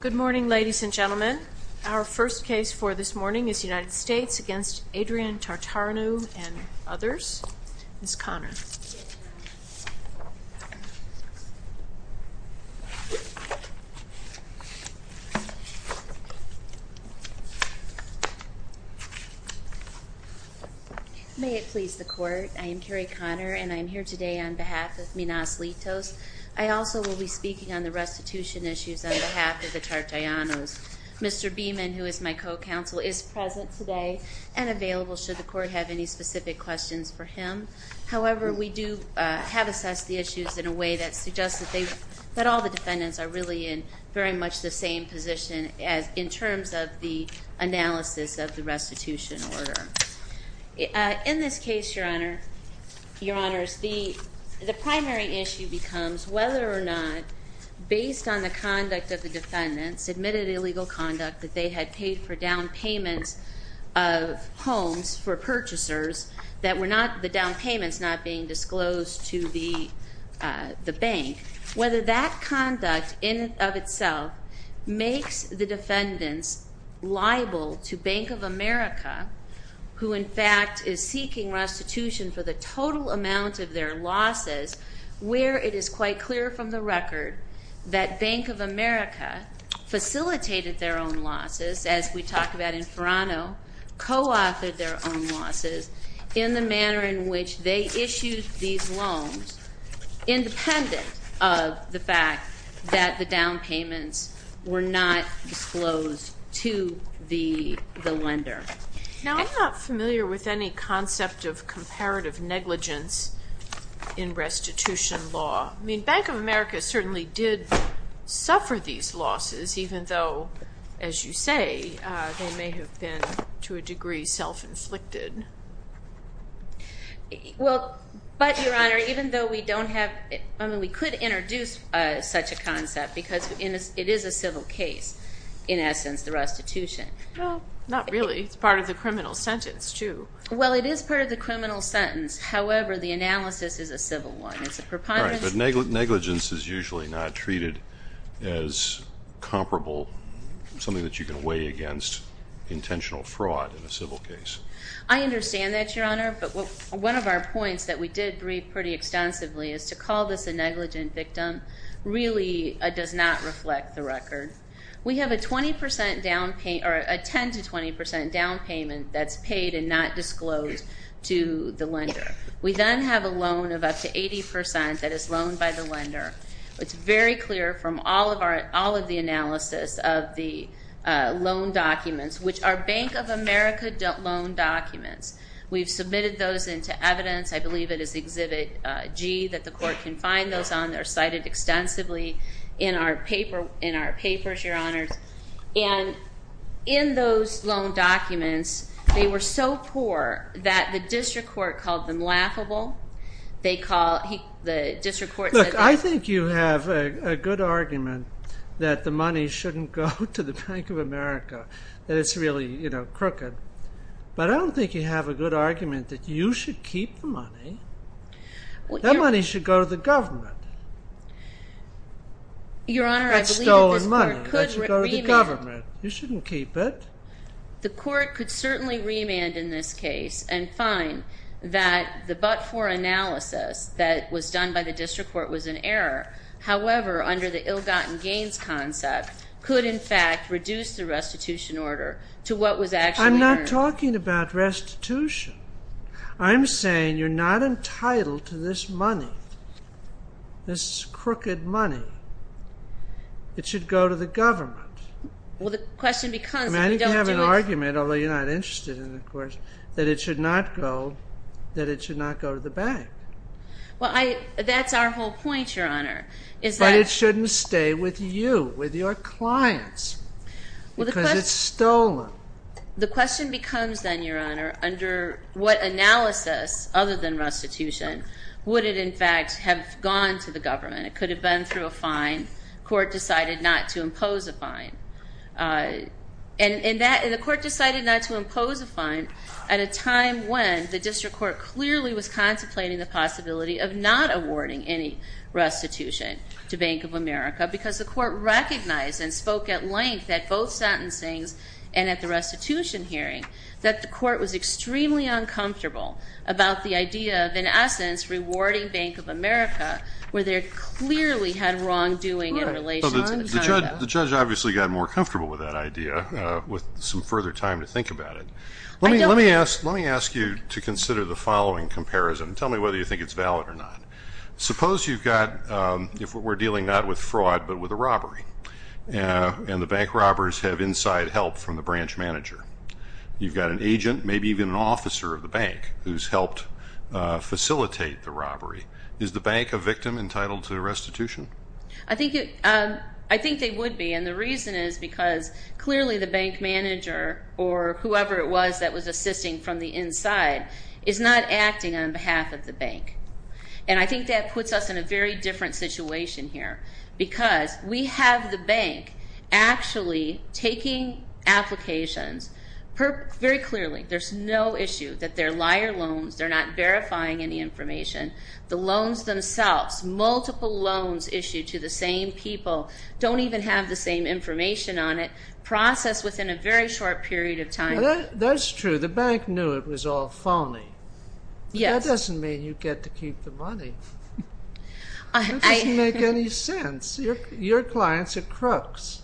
Good morning ladies and gentlemen. Our first case for this morning is United States v. Adrian Tartareanu and others. Ms. Conner. May it please the court, I am Carrie Conner and I am here today on behalf of Minas Litos. I also will be speaking on the restitution issues on behalf of the Tartareanus. Mr. Beeman, who is my co-counsel, is present today and available should the court have any specific questions for him. However, we do have assessed the issues in a way that suggests that all the defendants are really in very much the same position in terms of the analysis of the restitution order. In this case, your honors, the primary issue becomes whether or not, based on the conduct of the defendants, admitted illegal conduct that they had paid for down payments of homes for purchasers, the down payments not being disclosed to the bank, whether that conduct in and of itself makes the defendants liable to Bank of America, who in fact is seeking restitution for the total amount of their losses, where it is quite clear from the record that Bank of America facilitated their own losses, as we talked about in Ferrano, co-authored their own losses in the manner in which they issued these loans independent of the fact that the down payments were not disclosed to the lender. Now, I'm not familiar with any concept of comparative negligence in restitution law. I mean, Bank of America certainly did suffer these losses, even though, as you say, they may have been, to a degree, self-inflicted. Well, but, your honor, even though we don't have, I mean, we could introduce such a concept because it is a civil case, in essence, the restitution. Well, not really. It's part of the criminal sentence, too. Well, it is part of the criminal sentence. However, the analysis is a civil one. It's a preponderance. All right, but negligence is usually not treated as comparable, something that you can weigh against intentional fraud in a civil case. I understand that, your honor, but one of our points that we did read pretty extensively is to call this a negligent victim really does not reflect the record. We have a 10% to 20% down payment that's paid and not disclosed to the lender. We then have a loan of up to 80% that is loaned by the lender. It's very clear from all of the analysis of the loan documents, which are Bank of America loan documents. We've submitted those into evidence. I believe it is Exhibit G that the court can find those on. They're cited extensively in our papers, your honors. And in those loan documents, they were so poor that the district court called them laughable. They call, the district court said that. Look, I think you have a good argument that the money shouldn't go to the Bank of America, that it's really crooked. But I don't think you have a good argument that you should keep the money. That money should go to the government. That's stolen money. That should go to the government. You shouldn't keep it. The court could certainly remand in this case and find that the but-for analysis that was done by the district court was an error. However, under the ill-gotten gains concept, could in fact reduce the restitution order to what was actually earned. I'm not talking about restitution. I'm saying you're not entitled to this money, this crooked money. It should go to the government. Well, the question becomes if we don't do it. I think you have an argument, although you're not interested in it, of course, that it should not go to the bank. Well, that's our whole point, Your Honor. But it shouldn't stay with you, with your clients, because it's stolen. The question becomes then, Your Honor, under what analysis, other than restitution, would it in fact have gone to the government? It could have been through a fine. The court decided not to impose a fine. And the court decided not to impose a fine at a time when the district court clearly was contemplating the possibility of not awarding any restitution to Bank of America, because the court recognized and spoke at length at both sentencings and at the restitution hearing that the court was extremely uncomfortable about the idea of, in essence, rewarding Bank of America, where they clearly had wrongdoing in relation to the conduct. The judge obviously got more comfortable with that idea with some further time to think about it. Let me ask you to consider the following comparison. Tell me whether you think it's valid or not. Suppose you've got, if we're dealing not with fraud but with a robbery, and the bank robbers have inside help from the branch manager. You've got an agent, maybe even an officer of the bank, who's helped facilitate the robbery. Is the bank a victim entitled to restitution? I think they would be, and the reason is because clearly the bank manager or whoever it was that was assisting from the inside is not acting on behalf of the bank. And I think that puts us in a very different situation here, because we have the bank actually taking applications very clearly. There's no issue that they're liar loans. They're not verifying any information. The loans themselves, multiple loans issued to the same people, don't even have the same information on it, processed within a very short period of time. That's true. The bank knew it was all phony. Yes. That doesn't mean you get to keep the money. That doesn't make any sense. Your clients are crooks.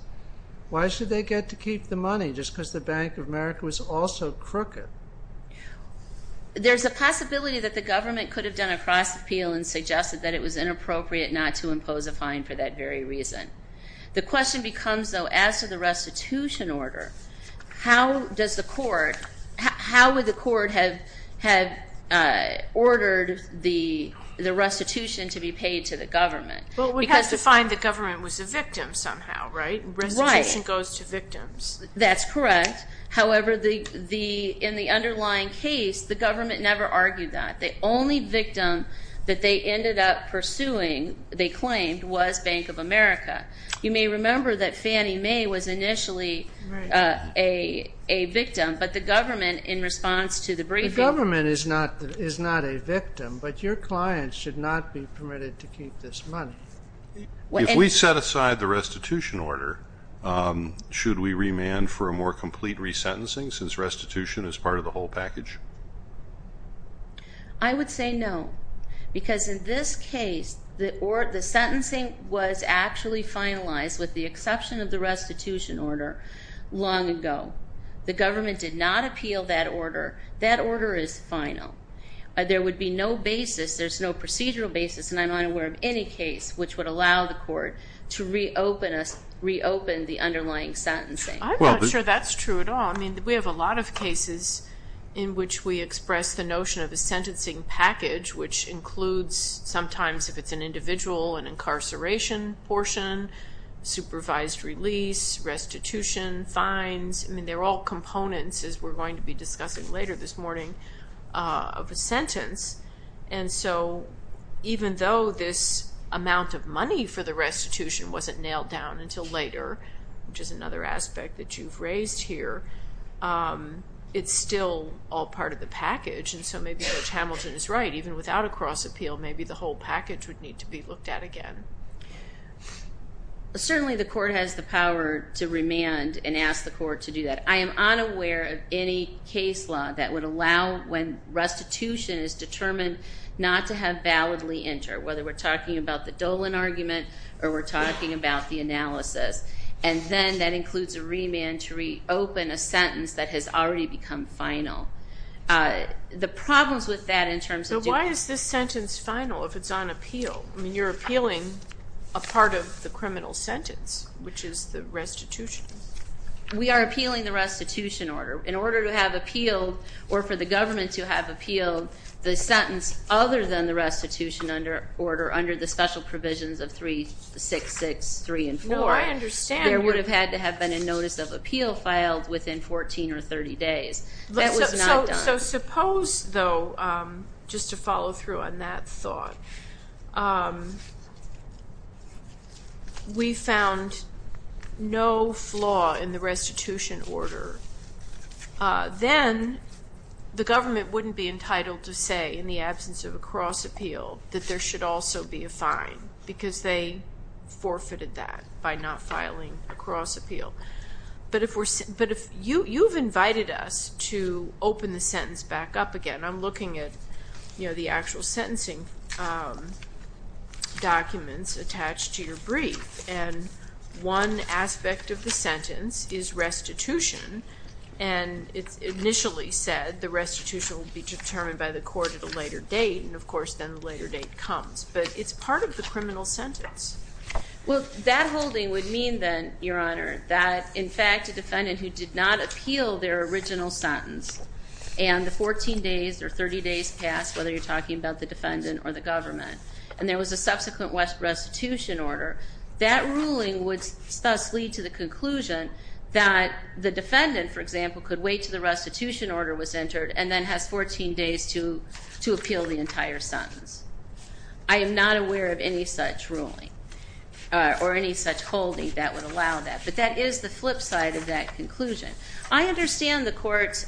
Why should they get to keep the money? Just because the Bank of America was also crooked. There's a possibility that the government could have done a cross appeal and suggested that it was inappropriate not to impose a fine for that very reason. The question becomes, though, as to the restitution order, how would the court have ordered the restitution to be paid to the government? Well, we have to find the government was a victim somehow, right? Right. Restitution goes to victims. That's correct. However, in the underlying case, the government never argued that. The only victim that they ended up pursuing, they claimed, was Bank of America. You may remember that Fannie Mae was initially a victim, but the government, in response to the briefing ---- The government is not a victim, but your clients should not be permitted to keep this money. If we set aside the restitution order, should we remand for a more complete resentencing since restitution is part of the whole package? I would say no, because in this case, the sentencing was actually finalized with the exception of the restitution order long ago. The government did not appeal that order. That order is final. There would be no basis. There's no procedural basis, and I'm unaware of any case which would allow the court to reopen the underlying sentencing. I'm not sure that's true at all. I mean, we have a lot of cases in which we express the notion of a sentencing package, which includes, sometimes, if it's an individual, an incarceration portion, supervised release, restitution, fines. I mean, they're all components, as we're going to be discussing later this morning, of a sentence, and so even though this amount of money for the restitution wasn't nailed down until later, which is another aspect that you've raised here, it's still all part of the package, and so maybe Judge Hamilton is right. Even without a cross-appeal, maybe the whole package would need to be looked at again. Certainly the court has the power to remand and ask the court to do that. I am unaware of any case law that would allow when restitution is determined not to have validly entered, whether we're talking about the Dolan argument or we're talking about the analysis, and then that includes a remand to reopen a sentence that has already become final. The problems with that in terms of doing that. So why is this sentence final if it's on appeal? I mean, you're appealing a part of the criminal sentence, which is the restitution. We are appealing the restitution order. In order to have appealed, or for the government to have appealed, the sentence other than the restitution order under the special provisions of 366.3 and 4, there would have had to have been a notice of appeal filed within 14 or 30 days. That was not done. So suppose, though, just to follow through on that thought, we found no flaw in the restitution order. Then the government wouldn't be entitled to say in the absence of a cross-appeal that there should also be a fine because they forfeited that by not filing a cross-appeal. But you've invited us to open the sentence back up again. I'm looking at the actual sentencing documents attached to your brief, and one aspect of the sentence is restitution, and it's initially said the restitution will be determined by the court at a later date, and, of course, then the later date comes. But it's part of the criminal sentence. Well, that holding would mean, then, Your Honor, that, in fact, a defendant who did not appeal their original sentence and the 14 days or 30 days passed, whether you're talking about the defendant or the government, and there was a subsequent restitution order, that ruling would thus lead to the conclusion that the defendant, for example, could wait until the restitution order was entered and then has 14 days to appeal the entire sentence. I am not aware of any such ruling or any such holding that would allow that, but that is the flip side of that conclusion. I understand the court's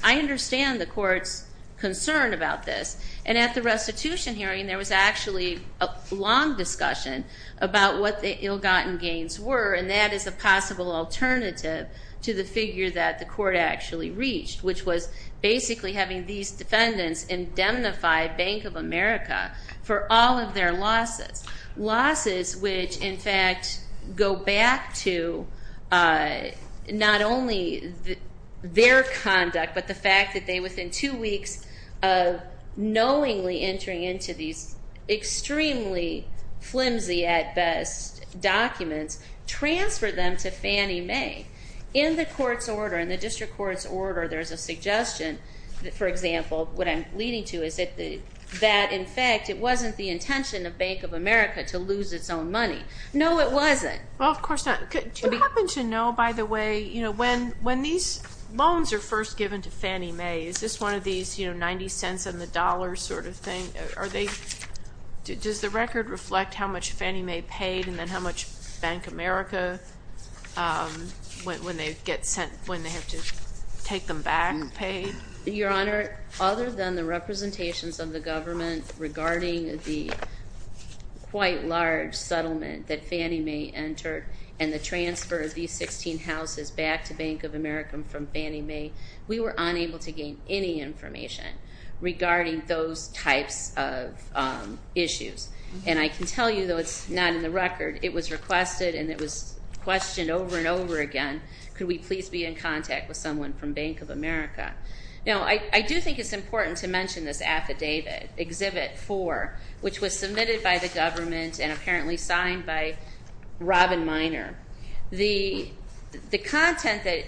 concern about this, and at the restitution hearing there was actually a long discussion about what the ill-gotten gains were, and that is a possible alternative to the figure that the court actually reached, which was basically having these defendants indemnify Bank of America for all of their losses, losses which, in fact, go back to not only their conduct but the fact that they, within two weeks of knowingly entering into these extremely flimsy, at best, documents, transferred them to Fannie Mae. In the court's order, in the district court's order, there's a suggestion, for example, what I'm leading to is that, in fact, it wasn't the intention of Bank of America to lose its own money. No, it wasn't. Well, of course not. Do you happen to know, by the way, when these loans are first given to Fannie Mae, is this one of these 90 cents on the dollar sort of thing? Does the record reflect how much Fannie Mae paid and then how much Bank of America, when they have to take them back, paid? Your Honor, other than the representations of the government regarding the quite large settlement that Fannie Mae entered and the transfer of these 16 houses back to Bank of America from Fannie Mae, we were unable to gain any information regarding those types of issues. And I can tell you, though it's not in the record, it was requested and it was questioned over and over again, could we please be in contact with someone from Bank of America? Now, I do think it's important to mention this affidavit, Exhibit 4, which was submitted by the government and apparently signed by Robin Miner. The content that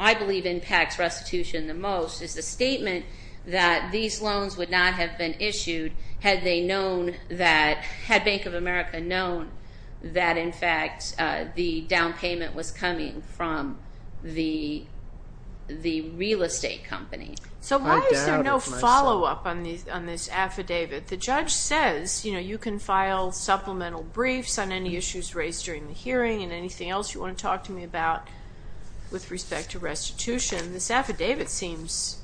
I believe impacts restitution the most is the statement that these loans would not have been issued had Bank of America known that, in fact, the down payment was coming from the real estate company. So why is there no follow-up on this affidavit? The judge says, you know, you can file supplemental briefs on any issues raised during the hearing and anything else you want to talk to me about with respect to restitution. This affidavit seems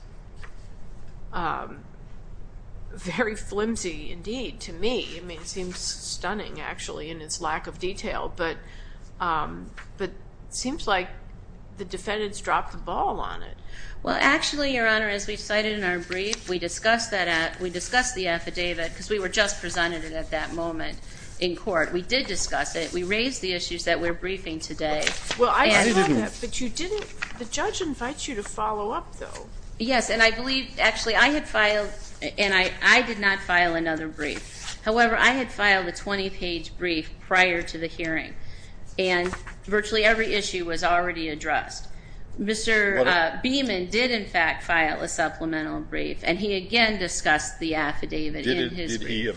very flimsy, indeed, to me. I mean, it seems stunning, actually, in its lack of detail. But it seems like the defendants dropped the ball on it. Well, actually, Your Honor, as we cited in our brief, we discussed the affidavit because we were just presented it at that moment in court. We did discuss it. We raised the issues that we're briefing today. Well, I heard that, but you didn't. The judge invites you to follow up, though. Yes, and I believe, actually, I had filed, and I did not file another brief. However, I had filed a 20-page brief prior to the hearing, and virtually every issue was already addressed. Mr. Beamon did, in fact, file a supplemental brief, and he again discussed the affidavit in his brief. In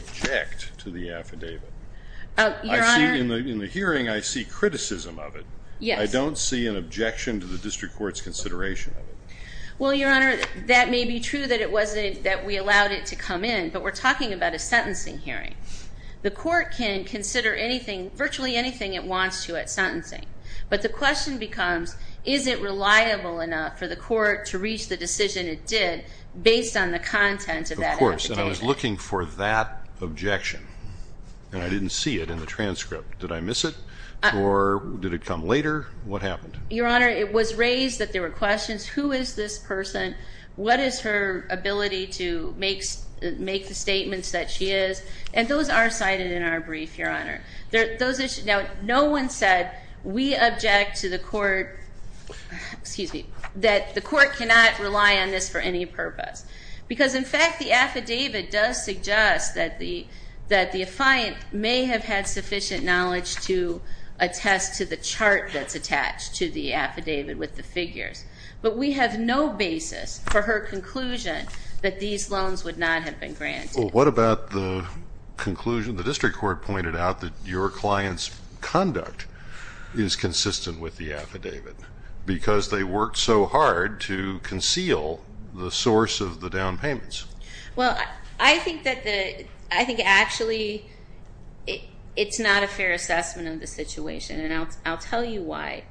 the hearing, I see criticism of it. I don't see an objection to the district court's consideration of it. Well, Your Honor, that may be true that we allowed it to come in, but we're talking about a sentencing hearing. The court can consider virtually anything it wants to at sentencing. But the question becomes, is it reliable enough for the court to reach the decision it did based on the content of that affidavit? Of course, and I was looking for that objection, and I didn't see it in the transcript. Did I miss it, or did it come later? What happened? Your Honor, it was raised that there were questions. Who is this person? What is her ability to make the statements that she is? And those are cited in our brief, Your Honor. Now, no one said we object to the court, excuse me, that the court cannot rely on this for any purpose, because, in fact, the affidavit does suggest that the affiant may have had sufficient knowledge to attest to the chart that's attached to the affidavit with the figures. But we have no basis for her conclusion that these loans would not have been granted. Well, what about the conclusion the district court pointed out that your client's conduct is consistent with the affidavit because they worked so hard to conceal the source of the down payments? Well, I think actually it's not a fair assessment of the situation, and I'll tell you why.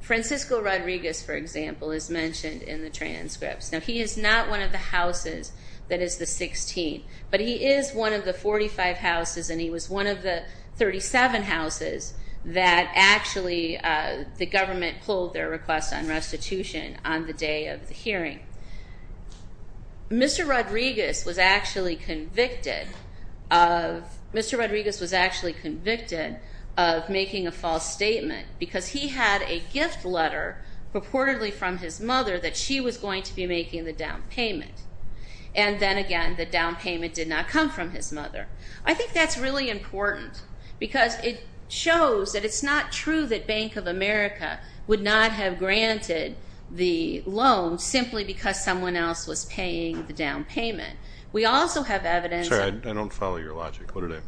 Francisco Rodriguez, for example, is mentioned in the transcripts. Now, he is not one of the houses that is the 16th, but he is one of the 45 houses, and he was one of the 37 houses that actually the government pulled their request on restitution on the day of the hearing. Mr. Rodriguez was actually convicted of making a false statement because he had a gift letter purportedly from his mother that she was going to be making the down payment. And then again, the down payment did not come from his mother. I think that's really important because it shows that it's not true that Bank of America would not have granted the loan simply because someone else was paying the down payment. We also have evidence that... Sorry, I don't follow your logic. What did I...?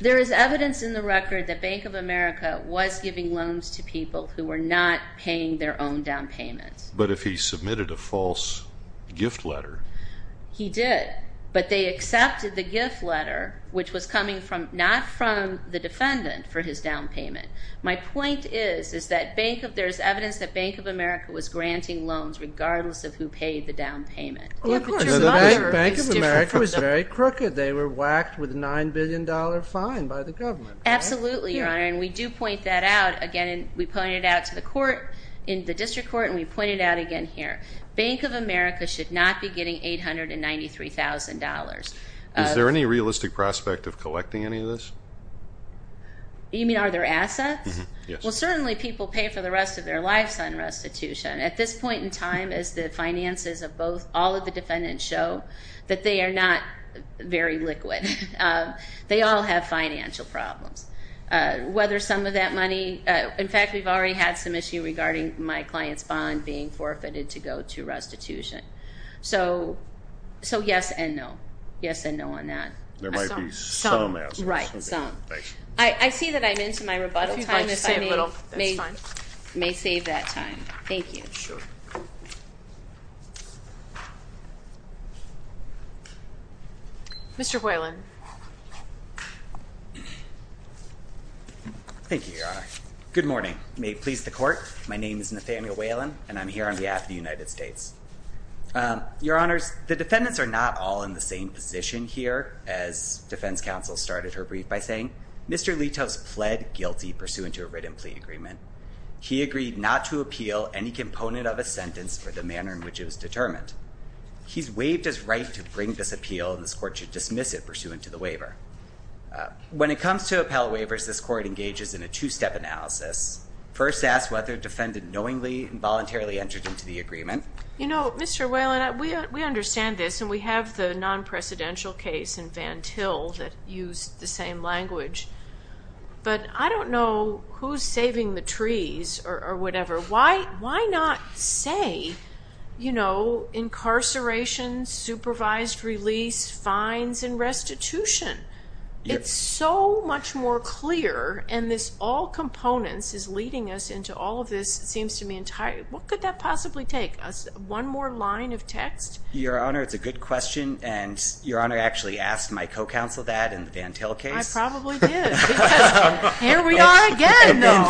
There is evidence in the record that Bank of America was giving loans to people who were not paying their own down payments. But if he submitted a false gift letter... He did, but they accepted the gift letter, which was coming not from the defendant for his down payment. My point is that there is evidence that Bank of America was granting loans regardless of who paid the down payment. Well, of course. The Bank of America was very crooked. They were whacked with a $9 billion fine by the government. Absolutely, Your Honor, and we do point that out. Again, we pointed it out to the court, the district court, and we pointed it out again here. Bank of America should not be getting $893,000. Is there any realistic prospect of collecting any of this? You mean are there assets? Yes. Well, certainly people pay for the rest of their lives on restitution. At this point in time, as the finances of all of the defendants show, that they are not very liquid. They all have financial problems. Whether some of that money... In fact, we've already had some issue regarding my client's bond being forfeited to go to restitution. So yes and no, yes and no on that. There might be some assets. Right, some. I see that I'm into my rebuttal time, so I may save that time. Thank you. Sure. Mr. Whalen. Thank you, Your Honor. Good morning. May it please the court. My name is Nathaniel Whalen, and I'm here on behalf of the United States. Your Honors, the defendants are not all in the same position here, as defense counsel started her brief by saying. Mr. Litos pled guilty pursuant to a written plea agreement. He agreed not to appeal any component of a sentence for the manner in which it was determined. He's waived his right to bring this appeal, and this court should dismiss it pursuant to the waiver. When it comes to appellate waivers, this court engages in a two-step analysis. First, ask whether defendant knowingly and voluntarily entered into the agreement. You know, Mr. Whalen, we understand this, and we have the non-presidential case in Van Til that used the same language. But I don't know who's saving the trees or whatever. Why not say, you know, incarceration, supervised release, fines, and restitution? It's so much more clear, and this all components is leading us into all of this. It seems to me entirely. What could that possibly take? One more line of text? Your Honor, it's a good question, and Your Honor actually asked my co-counsel that in the Van Til case. I probably did. Here we are again, though.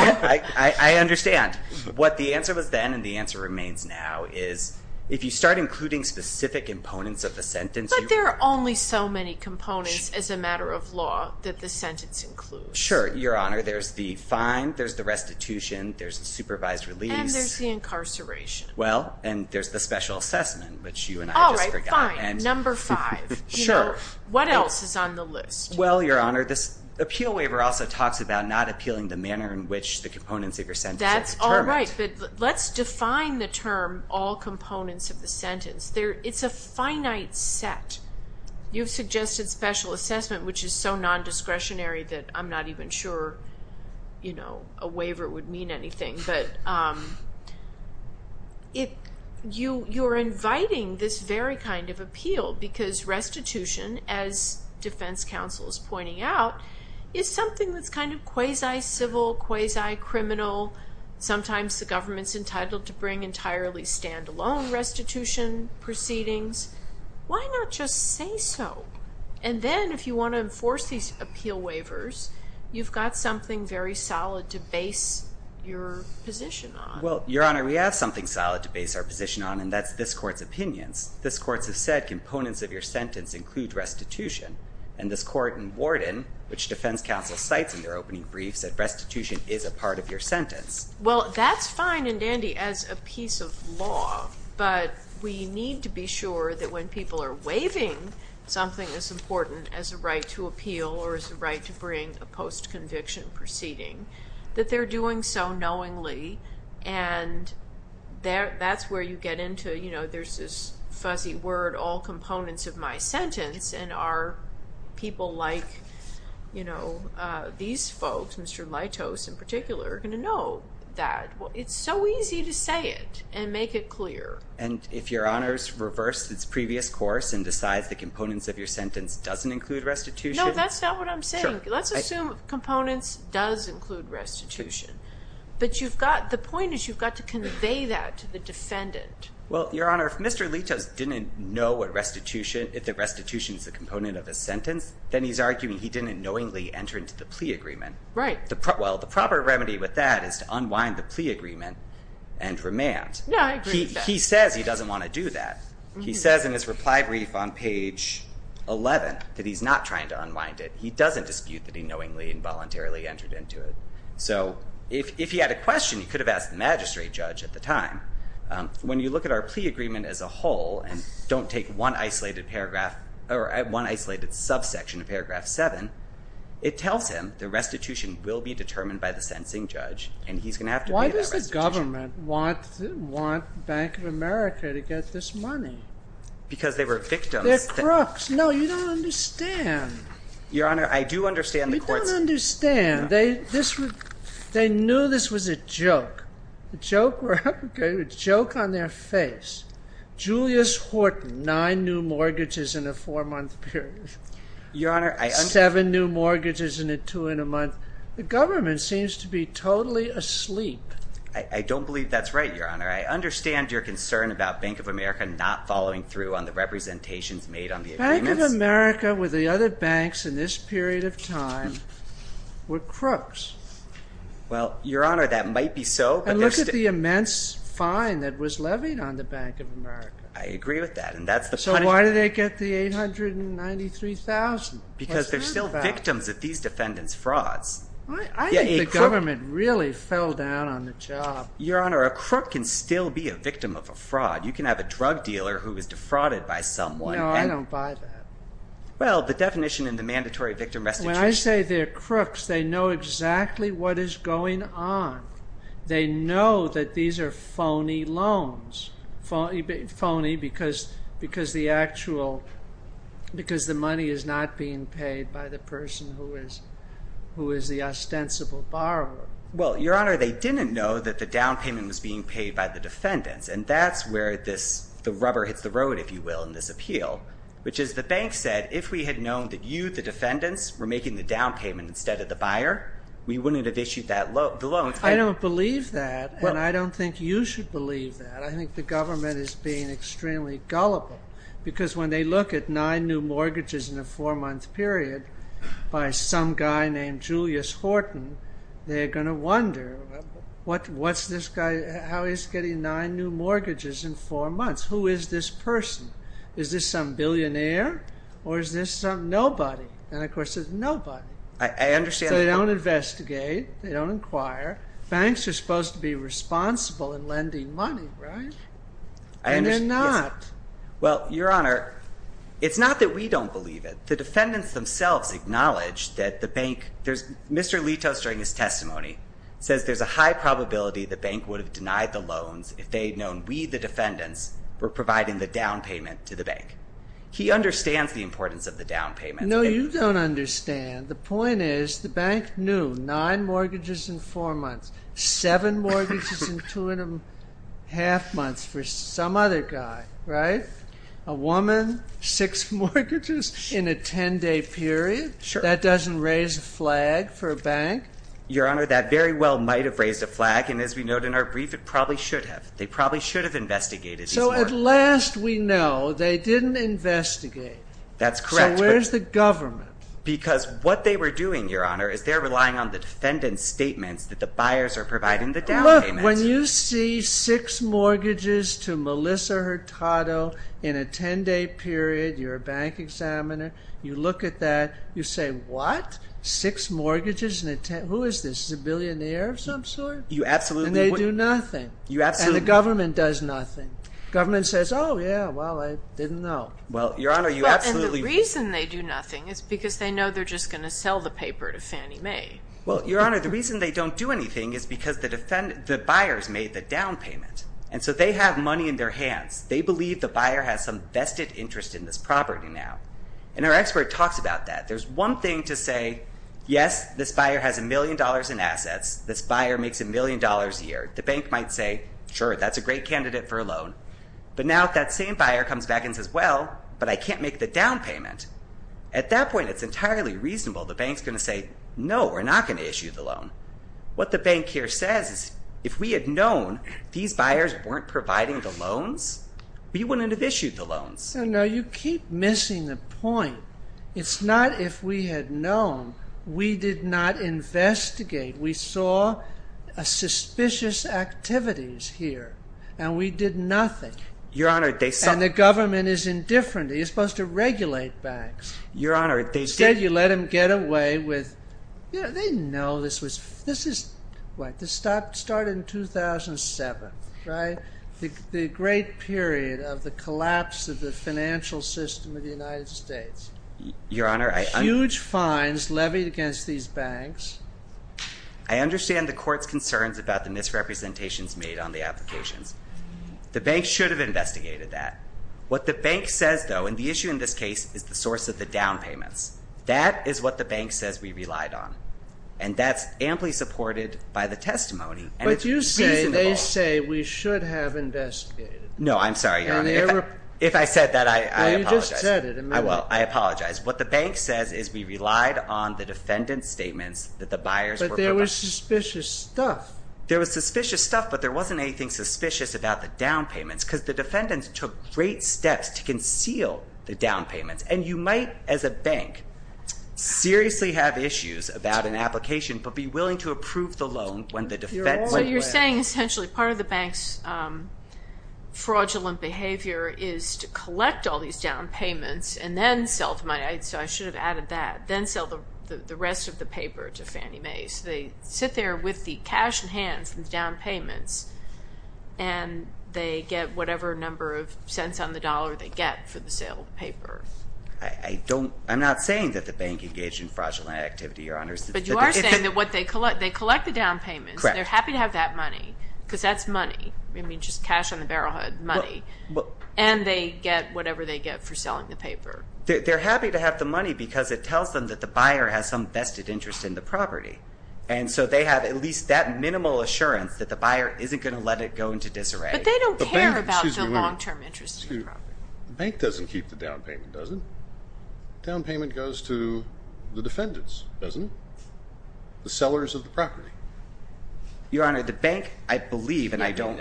I understand. What the answer was then and the answer remains now is if you start including specific components of the sentence. But there are only so many components as a matter of law that the sentence includes. Sure, Your Honor. There's the fine. There's the restitution. There's the supervised release. And there's the incarceration. Well, and there's the special assessment, which you and I just forgot. Number five. Sure. What else is on the list? Well, Your Honor, this appeal waiver also talks about not appealing the manner in which the components of your sentence are determined. That's all right. But let's define the term all components of the sentence. It's a finite set. You've suggested special assessment, which is so nondiscretionary that I'm not even sure a waiver would mean anything. But you're inviting this very kind of appeal because restitution, as defense counsel is pointing out, is something that's kind of quasi-civil, quasi-criminal. Sometimes the government's entitled to bring entirely stand-alone restitution proceedings. Why not just say so? And then if you want to enforce these appeal waivers, you've got something very solid to base your position on. Well, Your Honor, we have something solid to base our position on, and that's this Court's opinions. This Court has said components of your sentence include restitution, and this Court in Warden, which defense counsel cites in their opening brief, said restitution is a part of your sentence. Well, that's fine and dandy as a piece of law, but we need to be sure that when people are waiving something as important as a right to appeal or as a right to bring a post-conviction proceeding, that they're doing so knowingly, and that's where you get into, you know, there's this fuzzy word, all components of my sentence, and our people like, you know, these folks, Mr. Leitos in particular, are going to know that. It's so easy to say it and make it clear. And if Your Honor's reversed its previous course and decides the components of your sentence doesn't include restitution? No, that's not what I'm saying. Let's assume components does include restitution. Well, Your Honor, if Mr. Leitos didn't know what restitution, if the restitution is a component of his sentence, then he's arguing he didn't knowingly enter into the plea agreement. Right. Well, the proper remedy with that is to unwind the plea agreement and remand. Yeah, I agree with that. He says he doesn't want to do that. He says in his reply brief on page 11 that he's not trying to unwind it. He doesn't dispute that he knowingly and voluntarily entered into it. So if he had a question, he could have asked the magistrate judge at the time. When you look at our plea agreement as a whole and don't take one isolated subsection of paragraph 7, it tells him the restitution will be determined by the sentencing judge and he's going to have to pay that restitution. Why does the government want the Bank of America to get this money? Because they were victims. They're crooks. No, you don't understand. Your Honor, I do understand the courts. You don't understand. They knew this was a joke. A joke on their face. Julius Horton, nine new mortgages in a four-month period. Your Honor, I understand. Seven new mortgages in a two-and-a-month. The government seems to be totally asleep. I don't believe that's right, Your Honor. I understand your concern about Bank of America not following through on the representations made on the agreements. Bank of America, with the other banks in this period of time, were crooks. Well, Your Honor, that might be so. And look at the immense fine that was levied on the Bank of America. I agree with that. So why did they get the $893,000? Because they're still victims of these defendants' frauds. I think the government really fell down on the job. Your Honor, a crook can still be a victim of a fraud. You can have a drug dealer who was defrauded by someone. No, I don't buy that. Well, the definition in the mandatory victim restitution. When I say they're crooks, they know exactly what is going on. They know that these are phony loans. Phony because the money is not being paid by the person who is the ostensible borrower. Well, Your Honor, they didn't know that the down payment was being paid by the defendants. And that's where the rubber hits the road, if you will, in this appeal, which is the bank said if we had known that you, the defendants, were making the down payment instead of the buyer, we wouldn't have issued the loan. I don't believe that, and I don't think you should believe that. I think the government is being extremely gullible because when they look at nine new mortgages in a four-month period by some guy named Julius Horton, they're going to wonder, what's this guy? How is he getting nine new mortgages in four months? Who is this person? Is this some billionaire or is this some nobody? And, of course, it's nobody. So they don't investigate. They don't inquire. Banks are supposed to be responsible in lending money, right? And they're not. Well, Your Honor, it's not that we don't believe it. The defendants themselves acknowledge that the bank – Mr. Litos, during his testimony, says there's a high probability the bank would have denied the loans if they had known we, the defendants, were providing the down payment to the bank. He understands the importance of the down payment. No, you don't understand. The point is the bank knew nine mortgages in four months, seven mortgages in two and a half months for some other guy, right? A woman, six mortgages in a 10-day period? Sure. That doesn't raise a flag for a bank? Your Honor, that very well might have raised a flag, and as we note in our brief, it probably should have. They probably should have investigated. So at last we know they didn't investigate. That's correct. So where's the government? Because what they were doing, Your Honor, is they're relying on the defendant's statements that the buyers are providing the down payment. Look, when you see six mortgages to Melissa Hurtado in a 10-day period, you're a bank examiner, you look at that, you say, what? Six mortgages in a – who is this? Is this a billionaire of some sort? And they do nothing. And the government does nothing. The government says, oh, yeah, well, I didn't know. Well, Your Honor, you absolutely – And the reason they do nothing is because they know they're just going to sell the paper to Fannie Mae. Well, Your Honor, the reason they don't do anything is because the buyers made the down payment, and so they have money in their hands. They believe the buyer has some vested interest in this property now, and our expert talks about that. There's one thing to say, yes, this buyer has a million dollars in assets, this buyer makes a million dollars a year. The bank might say, sure, that's a great candidate for a loan. But now that same buyer comes back and says, well, but I can't make the down payment. At that point, it's entirely reasonable the bank's going to say, no, we're not going to issue the loan. What the bank here says is if we had known these buyers weren't providing the loans, we wouldn't have issued the loans. No, you keep missing the point. It's not if we had known. We did not investigate. We saw suspicious activities here, and we did nothing. Your Honor, they saw. And the government is indifferent. They're supposed to regulate banks. Your Honor, they did. Instead, you let them get away with, you know, they didn't know this was, this is, what, this started in 2007, right? The great period of the collapse of the financial system of the United States. Your Honor, I Huge fines levied against these banks. I understand the court's concerns about the misrepresentations made on the applications. The bank should have investigated that. What the bank says, though, and the issue in this case is the source of the down payments. That is what the bank says we relied on. And that's amply supported by the testimony. But you say they say we should have investigated. No, I'm sorry, Your Honor. If I said that, I apologize. Well, I apologize. What the bank says is we relied on the defendant's statements that the buyers were providing. But there was suspicious stuff. There was suspicious stuff, but there wasn't anything suspicious about the down payments, because the defendants took great steps to conceal the down payments. And you might, as a bank, seriously have issues about an application, but be willing to approve the loan when the defense went away. So you're saying, essentially, part of the bank's fraudulent behavior is to collect all these down payments and then sell the money. So I should have added that. Then sell the rest of the paper to Fannie Mae. So they sit there with the cash in hand from the down payments, and they get whatever number of cents on the dollar they get for the sale of the paper. I'm not saying that the bank engaged in fraudulent activity, Your Honor. But you are saying that they collect the down payments. They're happy to have that money, because that's money. I mean, just cash on the barrelhood, money. And they get whatever they get for selling the paper. They're happy to have the money because it tells them that the buyer has some vested interest in the property. And so they have at least that minimal assurance that the buyer isn't going to let it go into disarray. But they don't care about the long-term interest of the property. The bank doesn't keep the down payment, does it? The down payment goes to the defendants, doesn't it? The sellers of the property. Your Honor, the bank, I believe, and I don't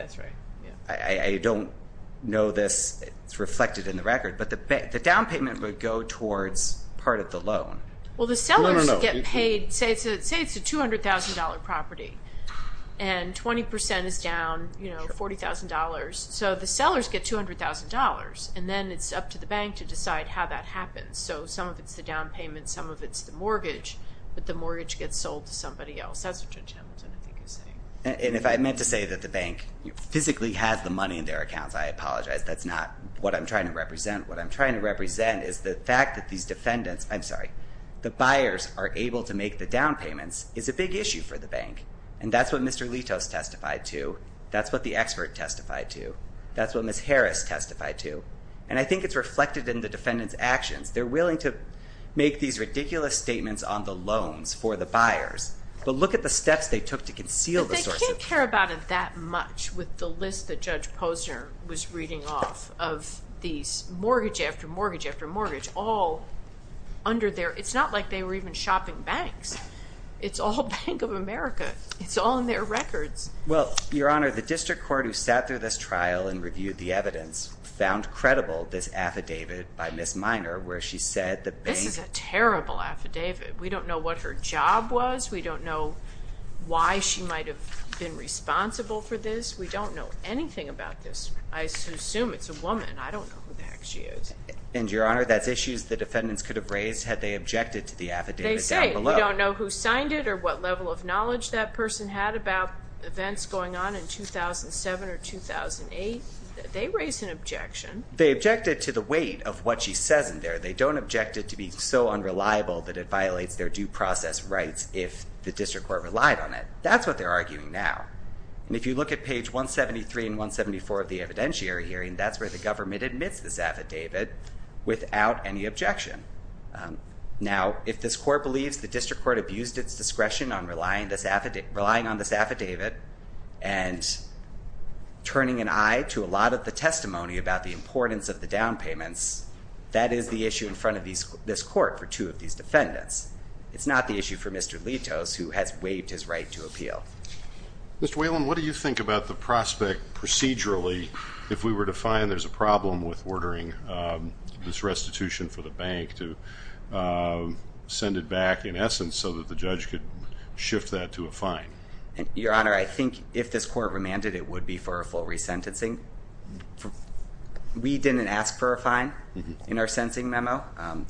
know this. It's reflected in the record. But the down payment would go towards part of the loan. Well, the sellers get paid. Say it's a $200,000 property, and 20% is down $40,000. So the sellers get $200,000, and then it's up to the bank to decide how that happens. So some of it's the down payment, some of it's the mortgage. But the mortgage gets sold to somebody else. That's what Judge Hamilton, I think, is saying. And if I meant to say that the bank physically has the money in their accounts, I apologize. That's not what I'm trying to represent. What I'm trying to represent is the fact that these defendants, I'm sorry, the buyers are able to make the down payments is a big issue for the bank. And that's what Mr. Litos testified to. That's what the expert testified to. That's what Ms. Harris testified to. And I think it's reflected in the defendant's actions. They're willing to make these ridiculous statements on the loans for the buyers. But look at the steps they took to conceal the source of the money. But they can't care about it that much with the list that Judge Posner was reading off of these mortgage after mortgage after mortgage all under there. It's not like they were even shopping banks. It's all Bank of America. It's all in their records. Well, Your Honor, the district court who sat through this trial and reviewed the evidence found credible this affidavit by Ms. Minor where she said the bank. This is a terrible affidavit. We don't know what her job was. We don't know why she might have been responsible for this. We don't know anything about this. I assume it's a woman. I don't know who the heck she is. And, Your Honor, that's issues the defendants could have raised had they objected to the affidavit down below. We don't know who signed it or what level of knowledge that person had about events going on in 2007 or 2008. They raised an objection. They objected to the weight of what she says in there. They don't object it to be so unreliable that it violates their due process rights if the district court relied on it. That's what they're arguing now. And if you look at page 173 and 174 of the evidentiary hearing, that's where the government admits this affidavit without any objection. Now, if this court believes the district court abused its discretion on relying on this affidavit and turning an eye to a lot of the testimony about the importance of the down payments, that is the issue in front of this court for two of these defendants. It's not the issue for Mr. Litos, who has waived his right to appeal. Mr. Whalen, what do you think about the prospect procedurally, if we were to find there's a problem with ordering this restitution for the bank to send it back, in essence, so that the judge could shift that to a fine? Your Honor, I think if this court remanded, it would be for a full resentencing. We didn't ask for a fine in our sentencing memo,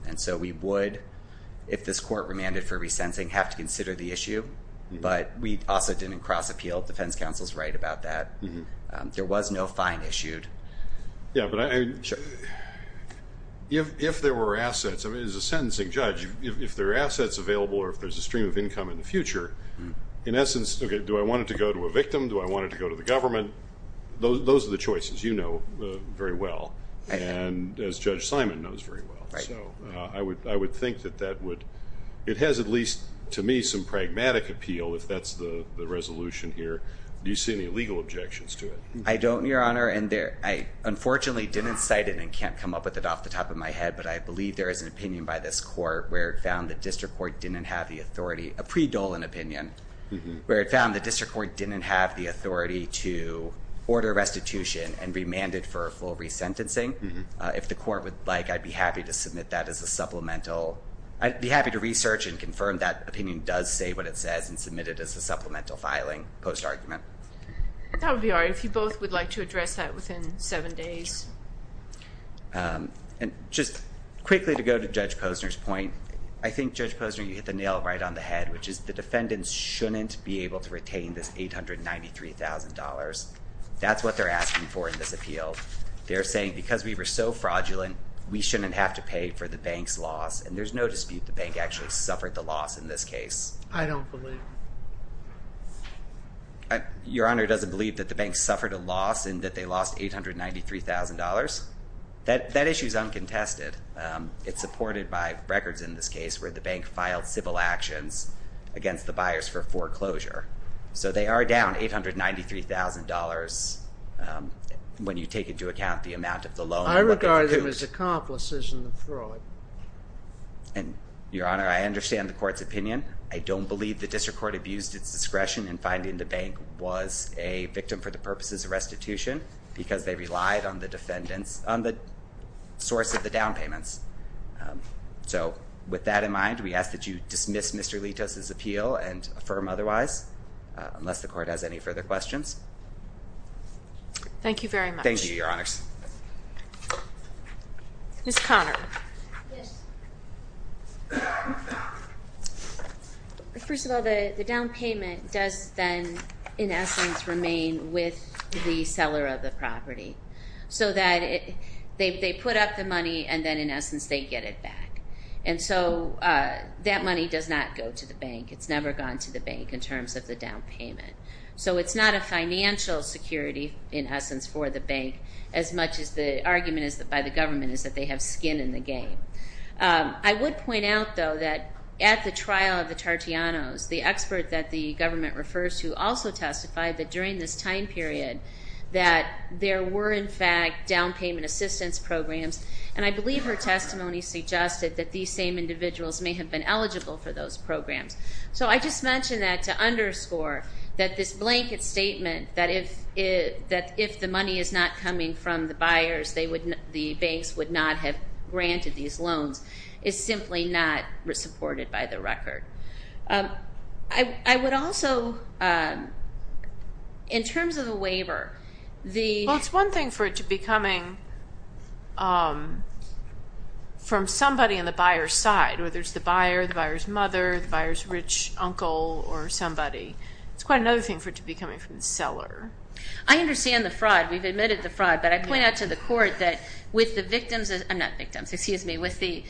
and so we would, if this court remanded for resentencing, have to consider the issue, but we also didn't cross-appeal. Defense counsel is right about that. There was no fine issued. Yeah, but if there were assets, as a sentencing judge, if there are assets available or if there's a stream of income in the future, in essence, do I want it to go to a victim? Do I want it to go to the government? Those are the choices you know very well, and as Judge Simon knows very well. So I would think that that would, it has at least, to me, some pragmatic appeal, if that's the resolution here. Do you see any legal objections to it? I don't, Your Honor, and I unfortunately didn't cite it and can't come up with it off the top of my head, but I believe there is an opinion by this court where it found the district court didn't have the authority, a pre-Dolan opinion, where it found the district court didn't have the authority to order restitution and remand it for a full resentencing. If the court would like, I'd be happy to submit that as a supplemental. I'd be happy to research and confirm that opinion does say what it says and submit it as a supplemental filing post-argument. That would be all right. If you both would like to address that within seven days. And just quickly to go to Judge Posner's point, I think, Judge Posner, you hit the nail right on the head, which is the defendants shouldn't be able to retain this $893,000. That's what they're asking for in this appeal. They're saying because we were so fraudulent, we shouldn't have to pay for the bank's loss, and there's no dispute the bank actually suffered the loss in this case. I don't believe it. Your Honor, doesn't believe that the bank suffered a loss and that they lost $893,000? That issue is uncontested. It's supported by records in this case where the bank filed civil actions against the buyers for foreclosure. So they are down $893,000 when you take into account the amount of the loan. I regard them as accomplices in the fraud. And, Your Honor, I understand the court's opinion. I don't believe the district court abused its discretion in finding the bank was a victim for the purposes of restitution because they relied on the source of the down payments. So with that in mind, we ask that you dismiss Mr. Litos' appeal and affirm otherwise, unless the court has any further questions. Thank you very much. Thank you, Your Honors. Ms. Conner. Yes. First of all, the down payment does then, in essence, remain with the seller of the property. So that they put up the money and then, in essence, they get it back. And so that money does not go to the bank. It's never gone to the bank in terms of the down payment. So it's not a financial security, in essence, for the bank, as much as the argument by the government is that they have skin in the game. I would point out, though, that at the trial of the Tartianos, the expert that the government refers to also testified that during this time period that there were, in fact, down payment assistance programs. And I believe her testimony suggested that these same individuals may have been eligible for those programs. So I just mention that to underscore that this blanket statement that if the money is not coming from the buyers, the banks would not have granted these loans, is simply not supported by the record. I would also, in terms of the waiver, the- Well, it's one thing for it to be coming from somebody on the buyer's side, whether it's the buyer, the buyer's mother, the buyer's rich uncle, or somebody. It's quite another thing for it to be coming from the seller. I understand the fraud. We've admitted the fraud. But I point out to the court that with the victims-I'm not victims, excuse me- with the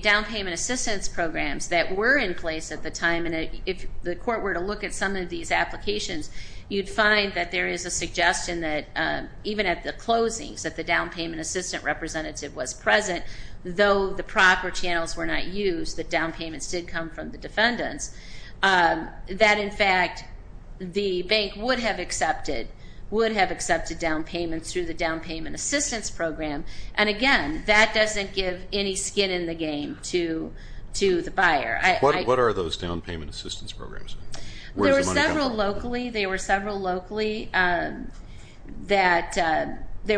down payment assistance programs that were in place at the time, and if the court were to look at some of these applications, you'd find that there is a suggestion that even at the closings that the down payment assistant representative was present, though the proper channels were not used, that down payments did come from the defendants, that, in fact, the bank would have accepted down payments through the down payment assistance program. And, again, that doesn't give any skin in the game to the buyer. What are those down payment assistance programs? Where does the money come from? There were several locally. There were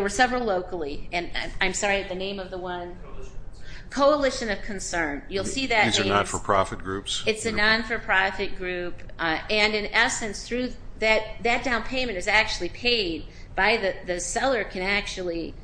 several locally. And I'm sorry, the name of the one? Coalition of Concern. Coalition of Concern. You'll see that name. These are not-for-profit groups? It's a not-for-profit group. And, in essence, that down payment is actually paid by the seller can actually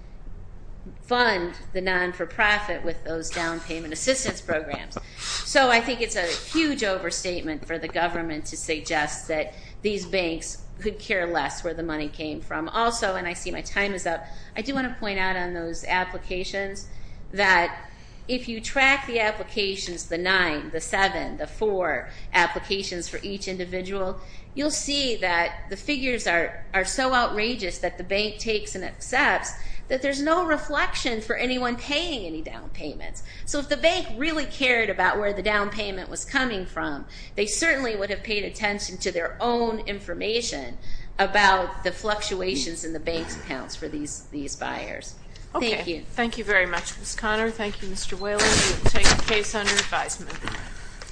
fund the not-for-profit with those down payment assistance programs. So I think it's a huge overstatement for the government to suggest that these banks could care less where the money came from. Also, and I see my time is up, I do want to point out on those applications that if you track the applications, the nine, the seven, the four applications for each individual, you'll see that the figures are so outrageous that the bank takes and accepts that there's no reflection for anyone paying any down payments. So if the bank really cared about where the down payment was coming from, they certainly would have paid attention to their own information about the fluctuations in the bank's accounts for these buyers. Thank you. Okay. Thank you very much, Ms. Conner. Thank you, Mr. Whaley. We will take the case under advisement.